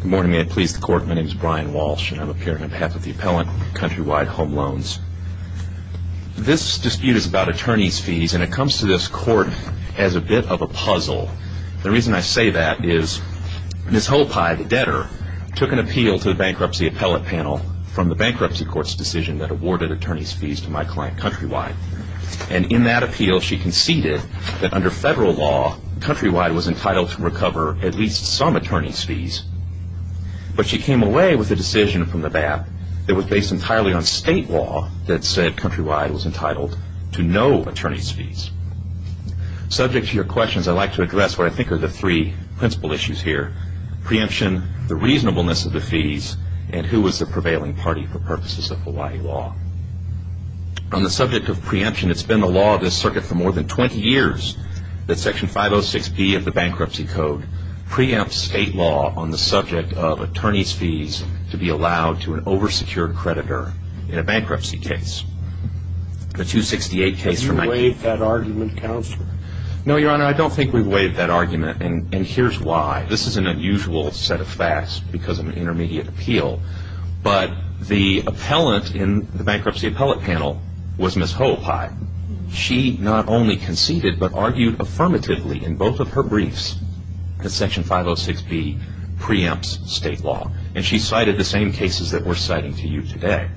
Good morning, may I please the court. My name is Brian Walsh and I'm appearing on behalf of the Appellant Countrywide Home Loans. This dispute is about attorney's fees and it comes to this court as a bit of a puzzle. The reason I say that is Ms. Hoopai, the debtor, took an appeal to the Bankruptcy Appellate Panel from the Bankruptcy Court's decision that awarded attorney's fees to my client Countrywide. And in that appeal, she conceded that under federal law, Countrywide was entitled to recover at least some attorney's fees. But she came away with a decision from the BAP that was based entirely on state law that said Countrywide was entitled to no attorney's fees. Subject to your questions, I'd like to address what I think are the three principal issues here. Preemption, the reasonableness of the fees, and who was the prevailing party for purposes of Hawaii law. On the subject of preemption, it's been the law of this circuit for more than 20 years that Section 506P of the Bankruptcy Code preempts state law on the subject of attorney's fees to be allowed to an oversecured creditor in a bankruptcy case. The 268 case from 19- Have you waived that argument, Counselor? No, Your Honor, I don't think we've waived that argument and here's why. This is an unusual set of facts because of an intermediate appeal. But the appellant in the bankruptcy appellate panel was Ms. Hohepie. She not only conceded but argued affirmatively in both of her briefs that Section 506P preempts state law. And she cited the same cases that we're citing to you today.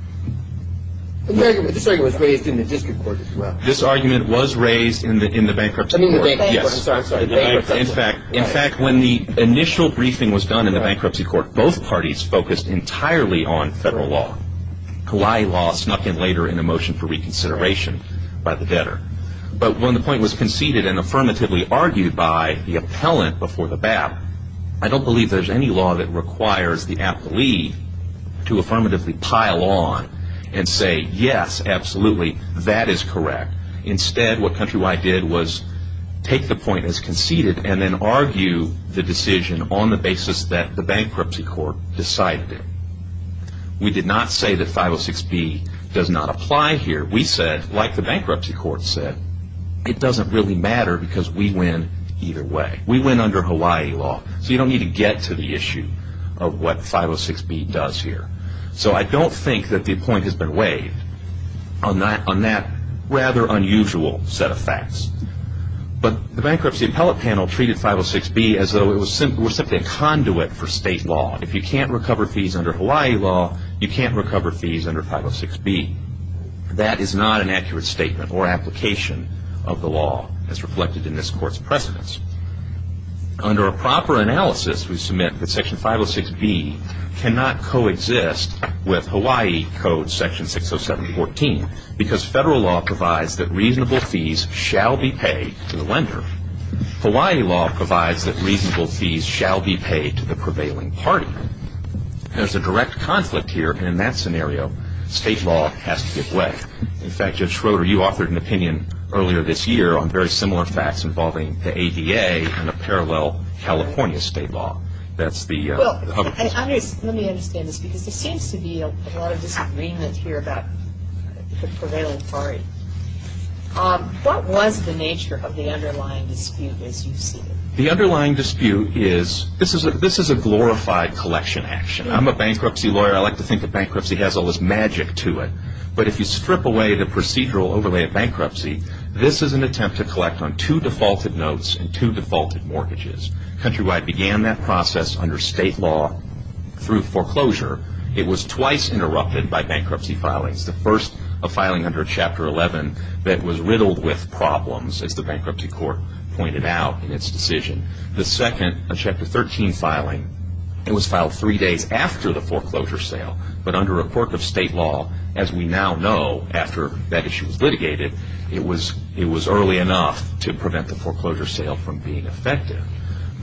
This argument was raised in the district court as well. This argument was raised in the bankruptcy court. I mean the bankruptcy court, I'm sorry. In fact, when the initial briefing was done in the bankruptcy court, both parties focused entirely on federal law. Kalei law snuck in later in a motion for reconsideration by the debtor. But when the point was conceded and affirmatively argued by the appellant before the BAP, I don't believe there's any law that requires the appellee to affirmatively pile on and say, yes, absolutely, that is correct. Instead, what Countrywide did was take the point as conceded and then argue the decision on the basis that the bankruptcy court decided it. We did not say that 506B does not apply here. We said, like the bankruptcy court said, it doesn't really matter because we win either way. We win under Hawaii law. So you don't need to get to the issue of what 506B does here. So I don't think that the point has been waived on that rather unusual set of facts. But the bankruptcy appellate panel treated 506B as though it was simply a conduit for state law. If you can't recover fees under Hawaii law, you can't recover fees under 506B. That is not an accurate statement or application of the law as reflected in this court's precedents. Under a proper analysis, we submit that section 506B cannot coexist with Hawaii Code section 60714 because federal law provides that reasonable fees shall be paid to the lender. Hawaii law provides that reasonable fees shall be paid to the prevailing party. There's a direct conflict here, and in that scenario, state law has to give way. In fact, Judge Schroeder, you authored an opinion earlier this year on very similar facts involving the ADA and a parallel California state law. Let me understand this because there seems to be a lot of disagreement here about the prevailing party. What was the nature of the underlying dispute as you see it? The underlying dispute is this is a glorified collection action. I'm a bankruptcy lawyer. I like to think that bankruptcy has all this magic to it. But if you strip away the procedural overlay of bankruptcy, this is an attempt to collect on two defaulted notes and two defaulted mortgages. Countrywide began that process under state law through foreclosure. It was twice interrupted by bankruptcy filings. The first, a filing under Chapter 11 that was riddled with problems, as the bankruptcy court pointed out in its decision. The second, a Chapter 13 filing. It was filed three days after the foreclosure sale. But under a court of state law, as we now know after that issue was litigated, it was early enough to prevent the foreclosure sale from being effective.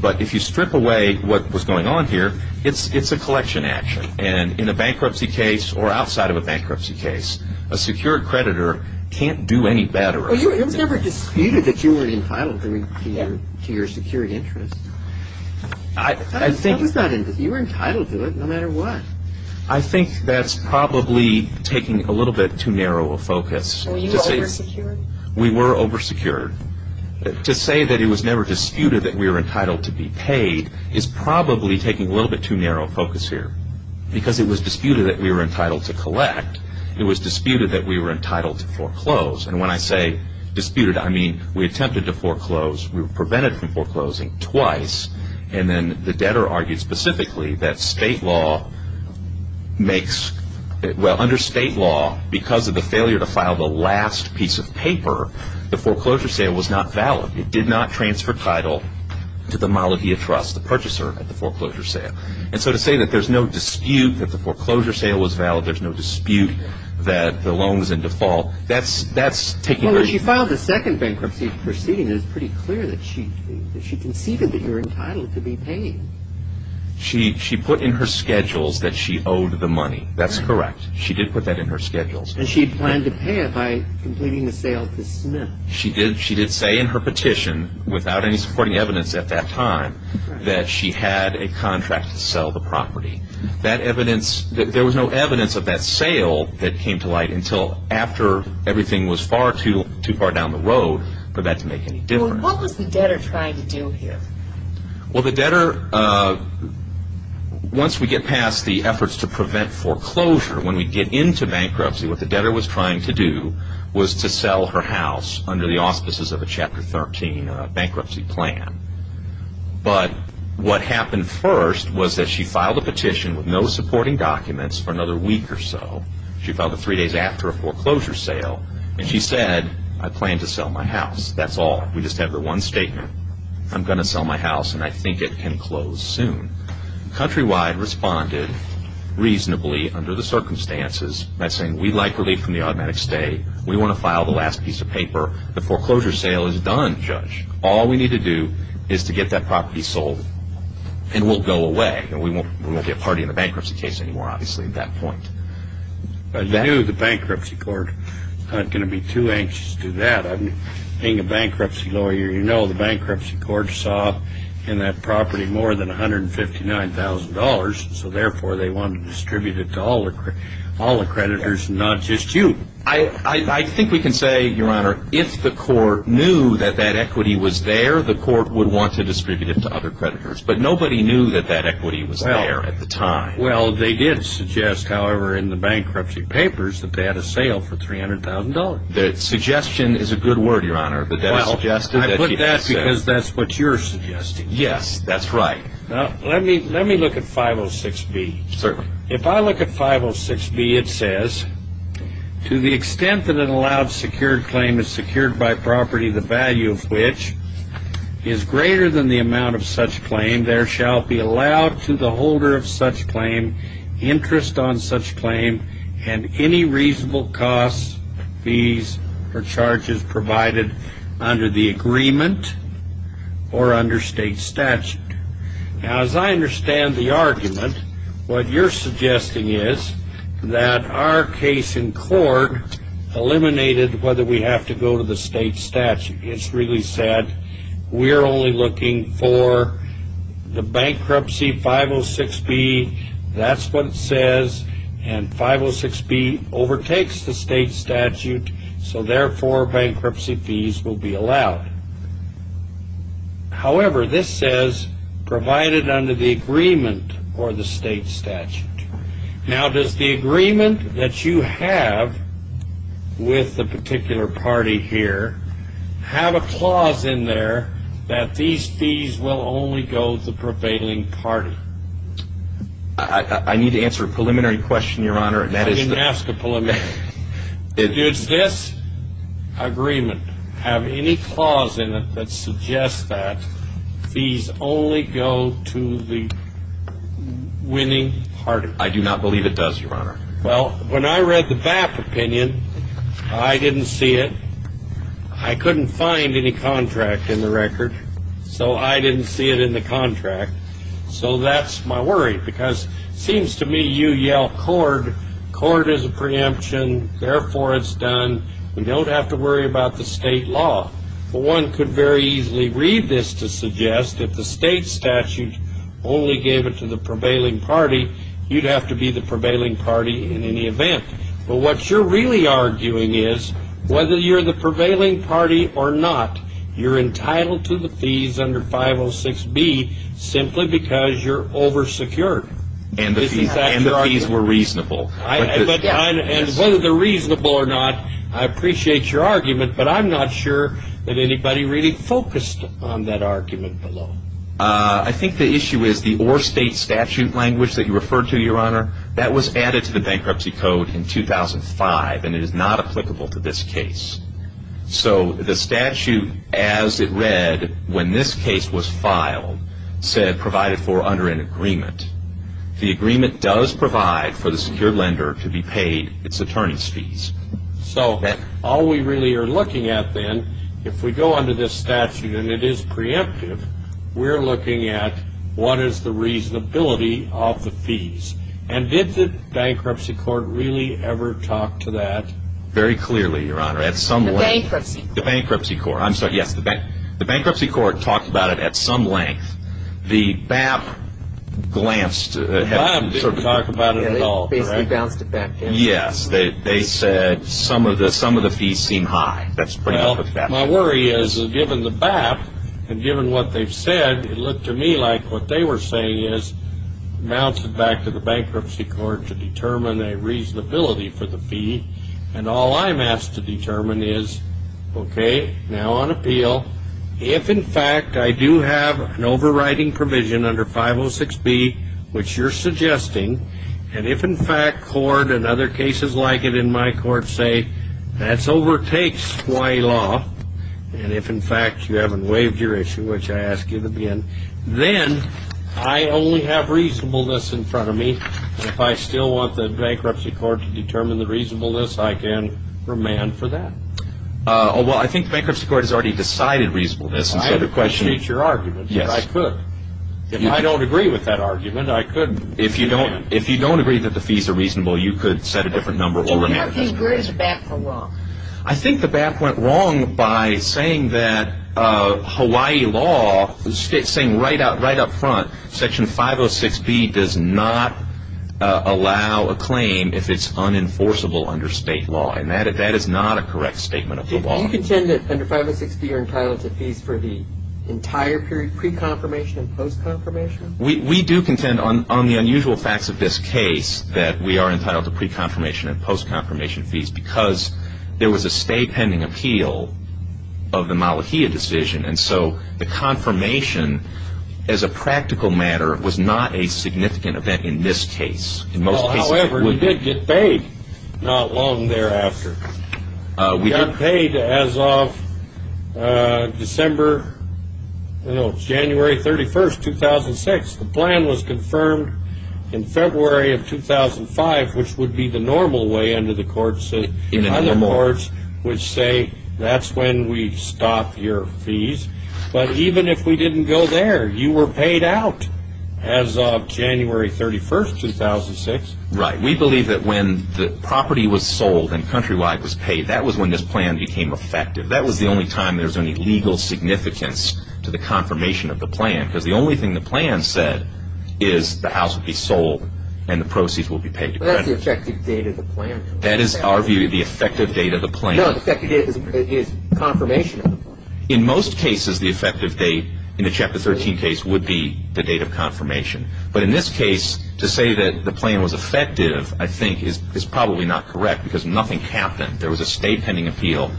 But if you strip away what was going on here, it's a collection action. And in a bankruptcy case or outside of a bankruptcy case, a secured creditor can't do any better. Well, it was never disputed that you were entitled to your secured interest. You were entitled to it no matter what. I think that's probably taking a little bit too narrow a focus. Were you oversecured? We were oversecured. To say that it was never disputed that we were entitled to be paid is probably taking a little bit too narrow a focus here. Because it was disputed that we were entitled to collect. It was disputed that we were entitled to foreclose. And when I say disputed, I mean we attempted to foreclose. We were prevented from foreclosing twice. And then the debtor argued specifically that state law makes – well, under state law, because of the failure to file the last piece of paper, the foreclosure sale was not valid. It did not transfer title to the Malavia Trust, the purchaser of the foreclosure sale. And so to say that there's no dispute that the foreclosure sale was valid, there's no dispute that the loan was in default, that's taking – Well, when she filed the second bankruptcy proceeding, it was pretty clear that she conceded that you were entitled to be paid. She put in her schedules that she owed the money. That's correct. She did put that in her schedules. And she planned to pay it by completing the sale to Smith. She did say in her petition, without any supporting evidence at that time, that she had a contract to sell the property. That evidence – there was no evidence of that sale that came to light until after everything was far too far down the road for that to make any difference. Well, what was the debtor trying to do here? Well, the debtor – once we get past the efforts to prevent foreclosure, when we get into bankruptcy, what the debtor was trying to do was to sell her house under the auspices of a Chapter 13 bankruptcy plan. But what happened first was that she filed a petition with no supporting documents for another week or so. She filed it three days after a foreclosure sale. And she said, I plan to sell my house. That's all. We just have the one statement. I'm going to sell my house, and I think it can close soon. Countrywide responded reasonably under the circumstances by saying, we'd like relief from the automatic stay. The foreclosure sale is done, Judge. All we need to do is to get that property sold, and we'll go away. We won't be a party in the bankruptcy case anymore, obviously, at that point. I knew the bankruptcy court wasn't going to be too anxious to do that. Being a bankruptcy lawyer, you know the bankruptcy court saw in that property more than $159,000, so therefore they wanted to distribute it to all the creditors and not just you. I think we can say, Your Honor, if the court knew that that equity was there, the court would want to distribute it to other creditors. But nobody knew that that equity was there at the time. Well, they did suggest, however, in the bankruptcy papers, that they had a sale for $300,000. Suggestion is a good word, Your Honor. I put that because that's what you're suggesting. Yes, that's right. Let me look at 506B. Certainly. If I look at 506B, it says, To the extent that an allowed secured claim is secured by property, the value of which is greater than the amount of such claim, there shall be allowed to the holder of such claim interest on such claim and any reasonable costs, fees, or charges provided under the agreement or under state statute. Now, as I understand the argument, what you're suggesting is that our case in court eliminated whether we have to go to the state statute. It's really said we're only looking for the bankruptcy 506B. That's what it says, and 506B overtakes the state statute, so therefore bankruptcy fees will be allowed. However, this says provided under the agreement or the state statute. Now, does the agreement that you have with the particular party here have a clause in there that these fees will only go to the prevailing party? I need to answer a preliminary question, Your Honor. I didn't ask a preliminary question. Does this agreement have any clause in it that suggests that fees only go to the winning party? I do not believe it does, Your Honor. Well, when I read the BAP opinion, I didn't see it. I couldn't find any contract in the record, so I didn't see it in the contract. So that's my worry because it seems to me you yell, Court is a preemption, therefore it's done. We don't have to worry about the state law. One could very easily read this to suggest if the state statute only gave it to the prevailing party, you'd have to be the prevailing party in any event. But what you're really arguing is whether you're the prevailing party or not, you're entitled to the fees under 506B simply because you're oversecured. And the fees were reasonable. And whether they're reasonable or not, I appreciate your argument, but I'm not sure that anybody really focused on that argument below. I think the issue is the or state statute language that you referred to, Your Honor, that was added to the Bankruptcy Code in 2005, and it is not applicable to this case. So the statute as it read when this case was filed said provided for under an agreement. The agreement does provide for the secured lender to be paid its attorney's fees. So all we really are looking at then, if we go under this statute and it is preemptive, we're looking at what is the reasonability of the fees. And did the Bankruptcy Court really ever talk to that? Very clearly, Your Honor. At some length. The Bankruptcy Court. The Bankruptcy Court. I'm sorry, yes. The Bankruptcy Court talked about it at some length. The BAP glanced. The BAP didn't talk about it at all. They basically bounced it back. Yes. They said some of the fees seem high. That's pretty much that. Well, my worry is that given the BAP and given what they've said, it looked to me like what they were saying is bouncing back to the Bankruptcy Court to determine a reasonability for the fee. And all I'm asked to determine is, okay, now on appeal, if, in fact, I do have an overriding provision under 506B, which you're suggesting, and if, in fact, court and other cases like it in my court say that's overtakes Hawaii law, and if, in fact, you haven't waived your issue, which I ask you to begin, then I only have reasonableness in front of me. If I still want the Bankruptcy Court to determine the reasonableness, I can remand for that. Well, I think the Bankruptcy Court has already decided reasonableness. I appreciate your argument. Yes. But I could. If I don't agree with that argument, I could remand. If you don't agree that the fees are reasonable, you could set a different number or remand. So your view is the BAP went wrong. I think the BAP went wrong by saying that Hawaii law, saying right up front, Section 506B does not allow a claim if it's unenforceable under state law. And that is not a correct statement of the law. Do you contend that under 506B you're entitled to fees for the entire period, pre-confirmation and post-confirmation? We do contend on the unusual facts of this case that we are entitled to pre-confirmation and post-confirmation fees because there was a stay pending appeal of the Malahia decision. And so the confirmation, as a practical matter, was not a significant event in this case. However, we did get paid not long thereafter. We got paid as of December, I don't know, January 31, 2006. The plan was confirmed in February of 2005, which would be the normal way under the courts, which say that's when we stop your fees. But even if we didn't go there, you were paid out as of January 31, 2006. Right. We believe that when the property was sold and Countrywide was paid, that was when this plan became effective. That was the only time there was any legal significance to the confirmation of the plan because the only thing the plan said is the house would be sold and the proceeds would be paid to Countrywide. But that's the effective date of the plan. That is our view, the effective date of the plan. No, the effective date is confirmation of the plan. In most cases, the effective date in the Chapter 13 case would be the date of confirmation. But in this case, to say that the plan was effective, I think, is probably not correct because nothing happened. There was a stay pending appeal.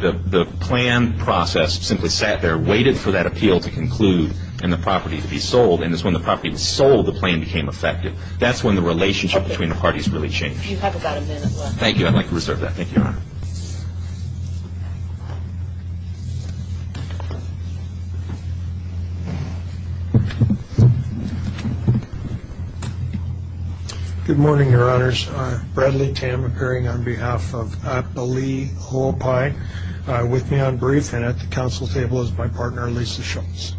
The plan process simply sat there, waited for that appeal to conclude, and the property to be sold. And it's when the property was sold, the plan became effective. That's when the relationship between the parties really changed. You have about a minute left. Thank you. I'd like to reserve that. Thank you, Your Honor. Good morning, Your Honors. I'm Bradley Tam, appearing on behalf of Appali Ho'opai with me on brief and at the council table is my partner, Lisa Schultz.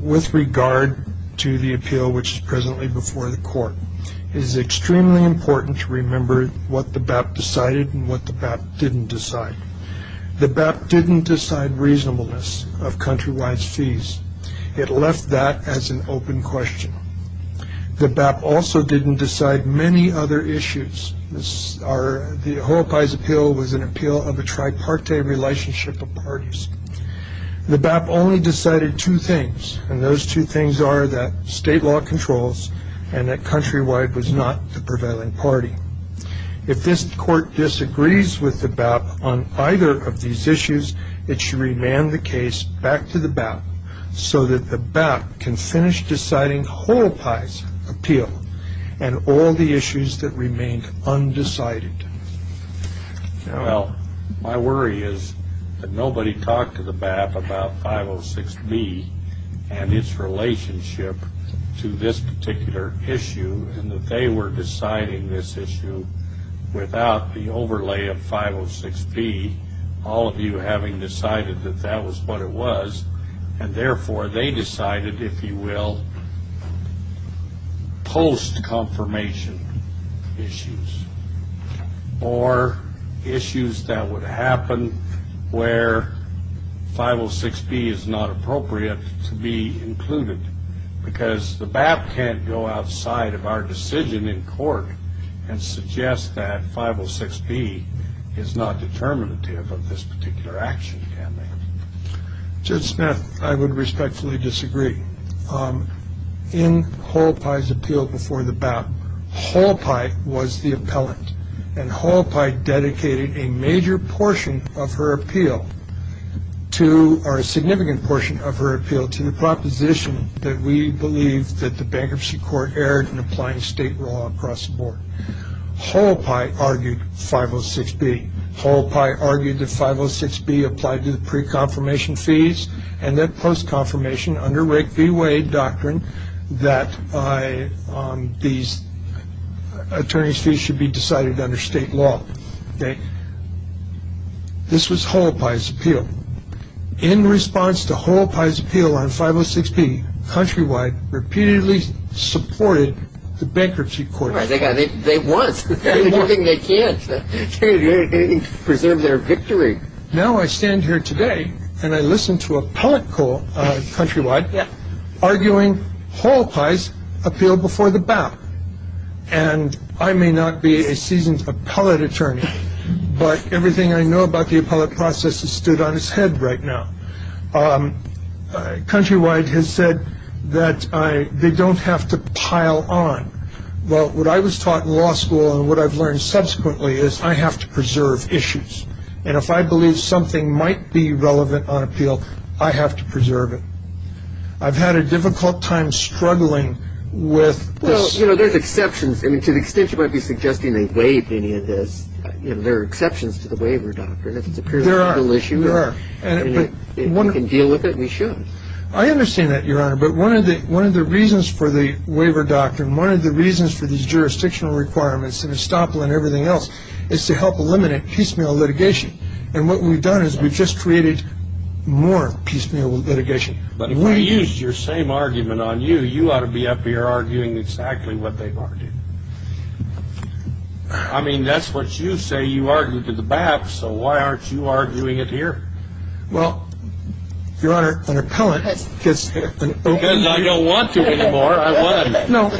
With regard to the appeal, which is presently before the Court, it is extremely important to remember what the BAP decided and what the BAP didn't decide. The BAP didn't decide reasonableness of Countrywide's fees. It left that as an open question. The BAP also didn't decide many other issues. The Ho'opai's appeal was an appeal of a tripartite relationship of parties. The BAP only decided two things, and those two things are that state law controls and that Countrywide was not the prevailing party. If this Court disagrees with the BAP on either of these issues, it should remand the case back to the BAP so that the BAP can finish deciding Ho'opai's appeal and all the issues that remained undecided. Well, my worry is that nobody talked to the BAP about 506B and its relationship to this particular issue and that they were deciding this issue without the overlay of 506B. All of you having decided that that was what it was, and therefore they decided, if you will, post-confirmation issues or issues that would happen where 506B is not appropriate to be included because the BAP can't go outside of our decision in court and suggest that 506B is not determinative of this particular action, can they? Judge Smith, I would respectfully disagree. In Ho'opai's appeal before the BAP, Ho'opai was the appellant, and Ho'opai dedicated a major portion of her appeal or a significant portion of her appeal to the proposition that we believe that the bankruptcy court erred in applying state law across the board. Ho'opai argued 506B. Ho'opai argued that 506B applied to the pre-confirmation fees and that post-confirmation under Wright v. Wade doctrine that these attorney's fees should be decided under state law. This was Ho'opai's appeal. In response to Ho'opai's appeal on 506B, Countrywide repeatedly supported the bankruptcy court. They won. They can't preserve their victory. Now I stand here today and I listen to appellate Court Countrywide arguing Ho'opai's appeal before the BAP, and I may not be a seasoned appellate attorney, but everything I know about the appellate process is stood on its head right now. Countrywide has said that they don't have to pile on. Well, what I was taught in law school and what I've learned subsequently is I have to preserve issues, and if I believe something might be relevant on appeal, I have to preserve it. I've had a difficult time struggling with this. You know, there's exceptions. I mean, to the extent you might be suggesting they waive any of this, there are exceptions to the waiver doctrine. If it's a purely legal issue and we can deal with it, we should. I understand that, Your Honor, but one of the reasons for the waiver doctrine, one of the reasons for these jurisdictional requirements and estoppel and everything else is to help eliminate piecemeal litigation, and what we've done is we've just created more piecemeal litigation. I mean, if I used your same argument on you, you ought to be up here arguing exactly what they've argued. I mean, that's what you say you argued to the BAP, so why aren't you arguing it here? Well, Your Honor, an appellant gets an opening. Because I don't want to anymore. I won. No.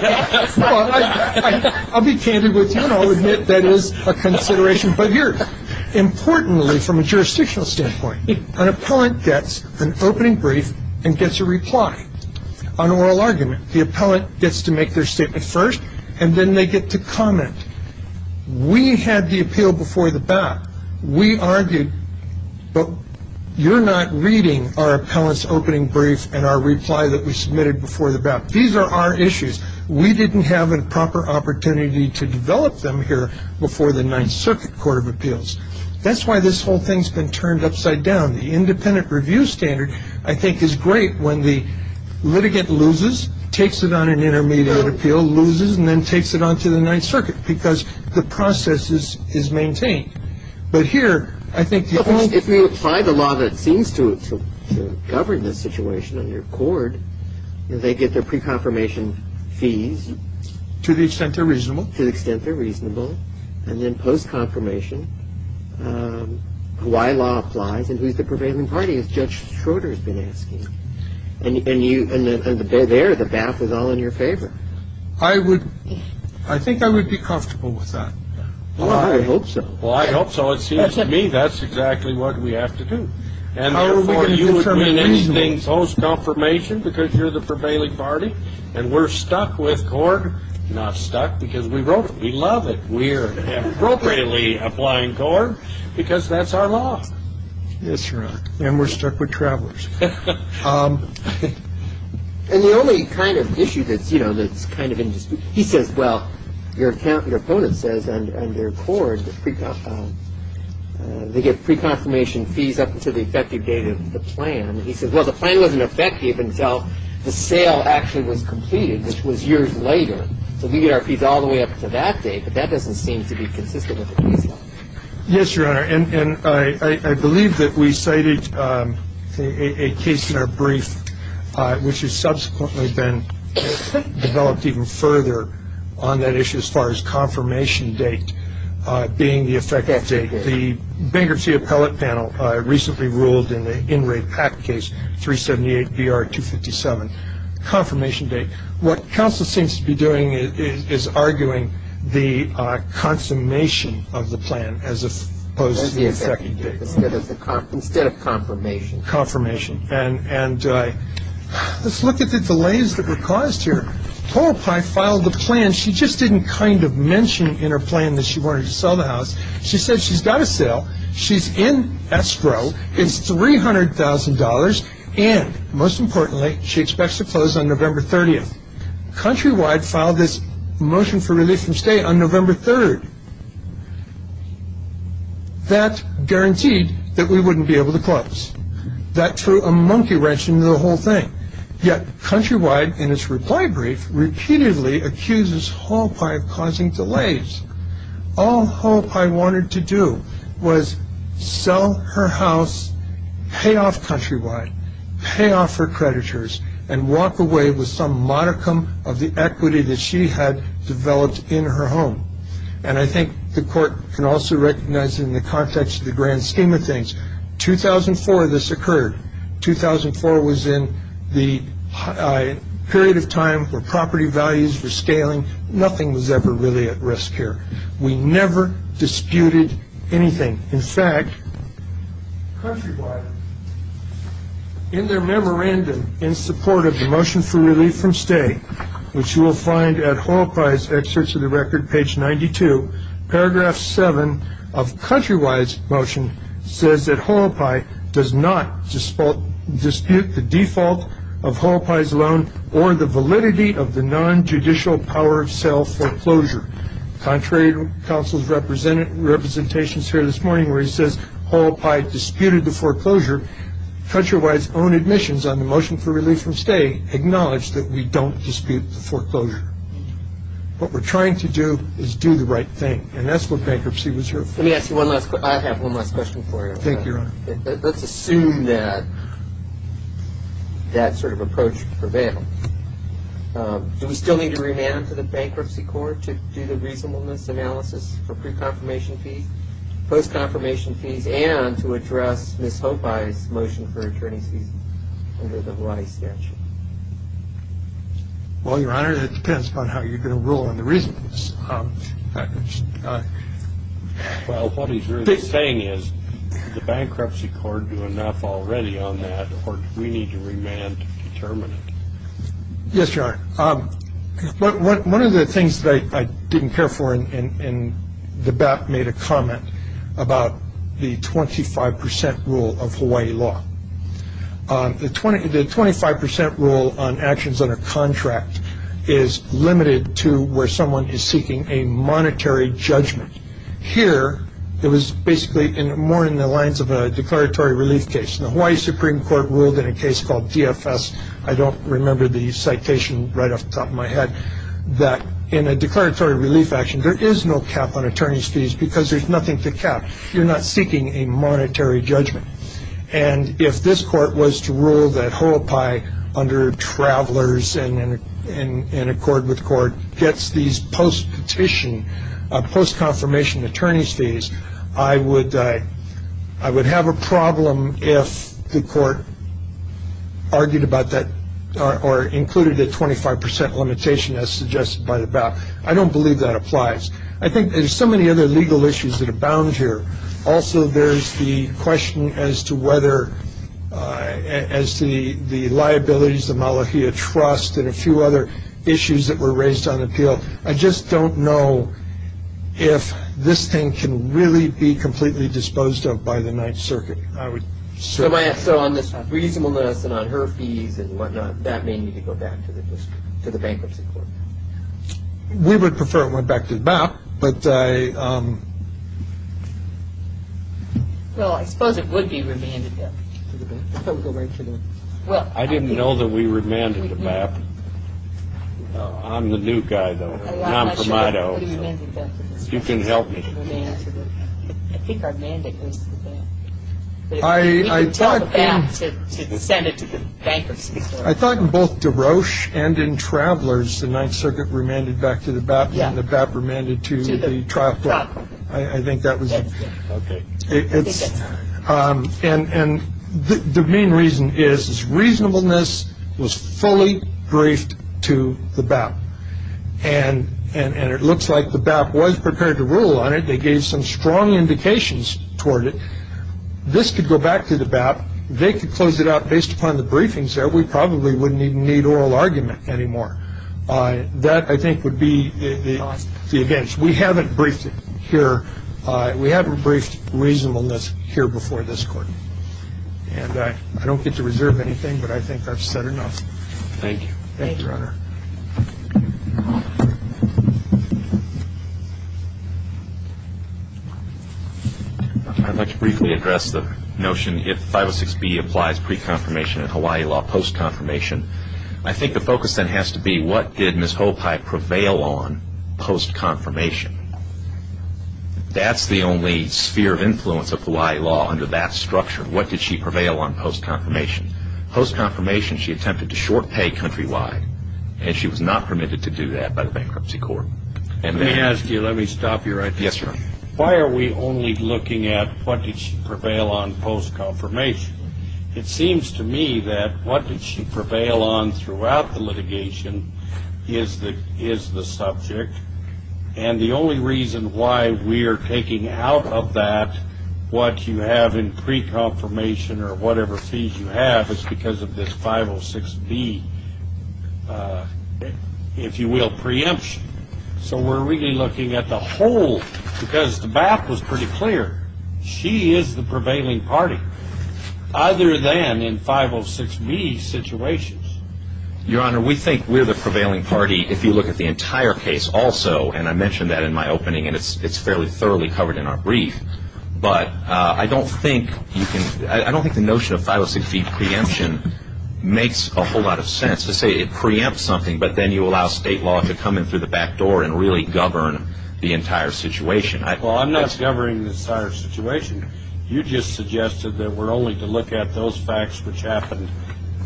I'll be candid with you, and I'll admit that is a consideration. Importantly, from a jurisdictional standpoint, an appellant gets an opening brief and gets a reply, an oral argument. The appellant gets to make their statement first, and then they get to comment. We had the appeal before the BAP. We argued, but you're not reading our appellant's opening brief and our reply that we submitted before the BAP. These are our issues. We didn't have a proper opportunity to develop them here before the Ninth Circuit Court of Appeals. That's why this whole thing's been turned upside down. The independent review standard, I think, is great when the litigant loses, takes it on an intermediate appeal, loses, and then takes it on to the Ninth Circuit, because the process is maintained. But here, I think the only ---- To the extent they're reasonable. To the extent they're reasonable. And then post-confirmation, why law applies and who's the prevailing party, as Judge Schroeder has been asking. And there, the BAP was all in your favor. I think I would be comfortable with that. Well, I hope so. Well, I hope so. It seems to me that's exactly what we have to do. And therefore, you would win anything post-confirmation because you're the prevailing party. And we're stuck with CORD. Not stuck because we wrote it. We love it. We're appropriately applying CORD because that's our law. That's right. And we're stuck with travelers. And the only kind of issue that's, you know, that's kind of in dispute. Your Honor, I do have a question. Well, I think the difference between the two is that if you say, well, your opponent says, and your court, they get pre-confirmation fees up until the effective date of the plan. He says, well, the plan wasn't effective until the sale actually was completed, which was years later. So we get our fees all the way up to that date. I wonder on that issue as far as confirmation date being the effective date. The bankruptcy appellate panel recently ruled in the in-rate PAC case 378-BR-257. Confirmation date. What counsel seems to be doing is arguing the consummation of the plan as opposed to the effective date. Instead of confirmation. Confirmation. And let's look at the delays that were caused here. Paul Pye filed the plan. She just didn't kind of mention in her plan that she wanted to sell the house. She said she's got to sell. She's in escrow. It's $300,000. And most importantly, she expects to close on November 30th. Countrywide filed this motion for relief from stay on November 3rd. That guaranteed that we wouldn't be able to close. That threw a monkey wrench into the whole thing. Yet Countrywide, in its reply brief, repeatedly accuses Paul Pye of causing delays. All Paul Pye wanted to do was sell her house, pay off Countrywide, pay off her creditors, and walk away with some modicum of the equity that she had developed in her home. And I think the court can also recognize it in the context of the grand scheme of things. 2004 this occurred. 2004 was in the period of time where property values were scaling. Nothing was ever really at risk here. We never disputed anything. In fact, Countrywide, in their memorandum in support of the motion for relief from stay, which you will find at Hall Pye's excerpts of the record, page 92, paragraph 7 of Countrywide's motion says that Hall Pye does not dispute the default of Hall Pye's loan or the validity of the nonjudicial power of sale foreclosure. Contrary to counsel's representations here this morning where he says Hall Pye disputed the foreclosure, Countrywide's own admissions on the motion for relief from stay acknowledge that we don't dispute the foreclosure. What we're trying to do is do the right thing, and that's what bankruptcy was here for. Let me ask you one last question. I have one last question for you. Thank you, Your Honor. Let's assume that that sort of approach prevailed. Do we still need to remand to the Bankruptcy Court to do the reasonableness analysis for pre-confirmation fees, post-confirmation fees, and to address Ms. Hopeye's motion for attorney's fees under the Hawaii statute? Well, Your Honor, that depends upon how you're going to rule on the reasonableness. Well, what he's really saying is, did the Bankruptcy Court do enough already on that, or do we need to remand to determine it? Yes, Your Honor. One of the things that I didn't care for in the BAP made a comment about the 25 percent rule of Hawaii law. The 25 percent rule on actions under contract is limited to where someone is seeking a monetary judgment. Here, it was basically more in the lines of a declaratory relief case. The Hawaii Supreme Court ruled in a case called DFS. I don't remember the citation right off the top of my head, that in a declaratory relief action, there is no cap on attorney's fees because there's nothing to cap. You're not seeking a monetary judgment. And if this court was to rule that Hopeye, under travelers and in accord with court, gets these post-petition, post-confirmation attorney's fees, I would have a problem if the court argued about that or included a 25 percent limitation as suggested by the BAP. I don't believe that applies. I think there's so many other legal issues that abound here. Also, there's the question as to whether, as to the liabilities, the Malahia Trust, and a few other issues that were raised on appeal. I just don't know if this thing can really be completely disposed of by the Ninth Circuit. So on this reasonableness and on her fees and whatnot, that may need to go back to the bankruptcy court. We would prefer it went back to the BAP. Well, I suppose it would be remanded, though. I didn't know that we remanded the BAP. I'm the new guy, though, non-promoto. You can help me. You can tell the BAP to send it to the bankruptcy court. I thought in both DeRoche and in Travelers, the Ninth Circuit remanded back to the BAP, and the BAP remanded to the trial court. I think that was it. Okay. And the main reason is reasonableness was fully briefed to the BAP. And it looks like the BAP was prepared to rule on it. They gave some strong indications toward it. This could go back to the BAP. They could close it out based upon the briefings there. But we probably wouldn't even need oral argument anymore. That, I think, would be the advantage. We haven't briefed it here. We haven't briefed reasonableness here before this court. And I don't get to reserve anything, but I think I've said enough. Thank you. Thank you, Your Honor. I'd like to briefly address the notion, if 506B applies pre-confirmation in Hawaii law post-confirmation, I think the focus then has to be what did Ms. Hopai prevail on post-confirmation? That's the only sphere of influence of Hawaii law under that structure. What did she prevail on post-confirmation? Post-confirmation, she attempted to short pay countrywide. And she was not permitted to do that by the bankruptcy court. Let me ask you, let me stop you right there. Yes, Your Honor. Why are we only looking at what did she prevail on post-confirmation? It seems to me that what did she prevail on throughout the litigation is the subject. And the only reason why we are taking out of that what you have in pre-confirmation or whatever fees you have is because of this 506B, if you will, preemption. So we're really looking at the whole, because the back was pretty clear. She is the prevailing party. Other than in 506B situations. Your Honor, we think we're the prevailing party if you look at the entire case also. And I mentioned that in my opening, and it's fairly thoroughly covered in our brief. But I don't think you can, I don't think the notion of 506B preemption makes a whole lot of sense. To say it preempts something, but then you allow state law to come in through the back door and really govern the entire situation. Well, I'm not governing the entire situation. You just suggested that we're only to look at those facts which happened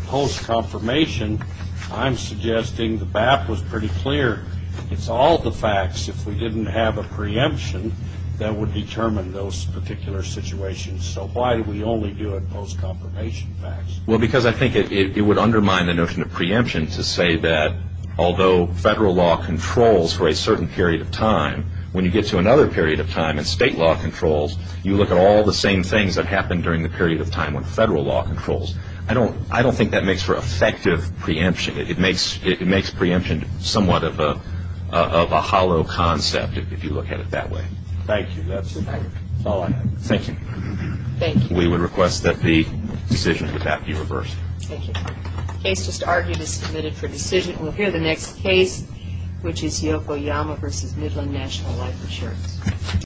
post-confirmation. I'm suggesting the back was pretty clear. It's all the facts if we didn't have a preemption that would determine those particular situations. So why do we only do it post-confirmation facts? Well, because I think it would undermine the notion of preemption to say that although federal law controls for a certain period of time, when you get to another period of time and state law controls, you look at all the same things that happened during the period of time when federal law controls. I don't think that makes for effective preemption. It makes preemption somewhat of a hollow concept if you look at it that way. Thank you. That's all I have. Thank you. Thank you. We would request that the decision would that be reversed. Thank you. The case just argued is submitted for decision. We'll hear the next case, which is Yokoyama v. Midland National Life Insurance.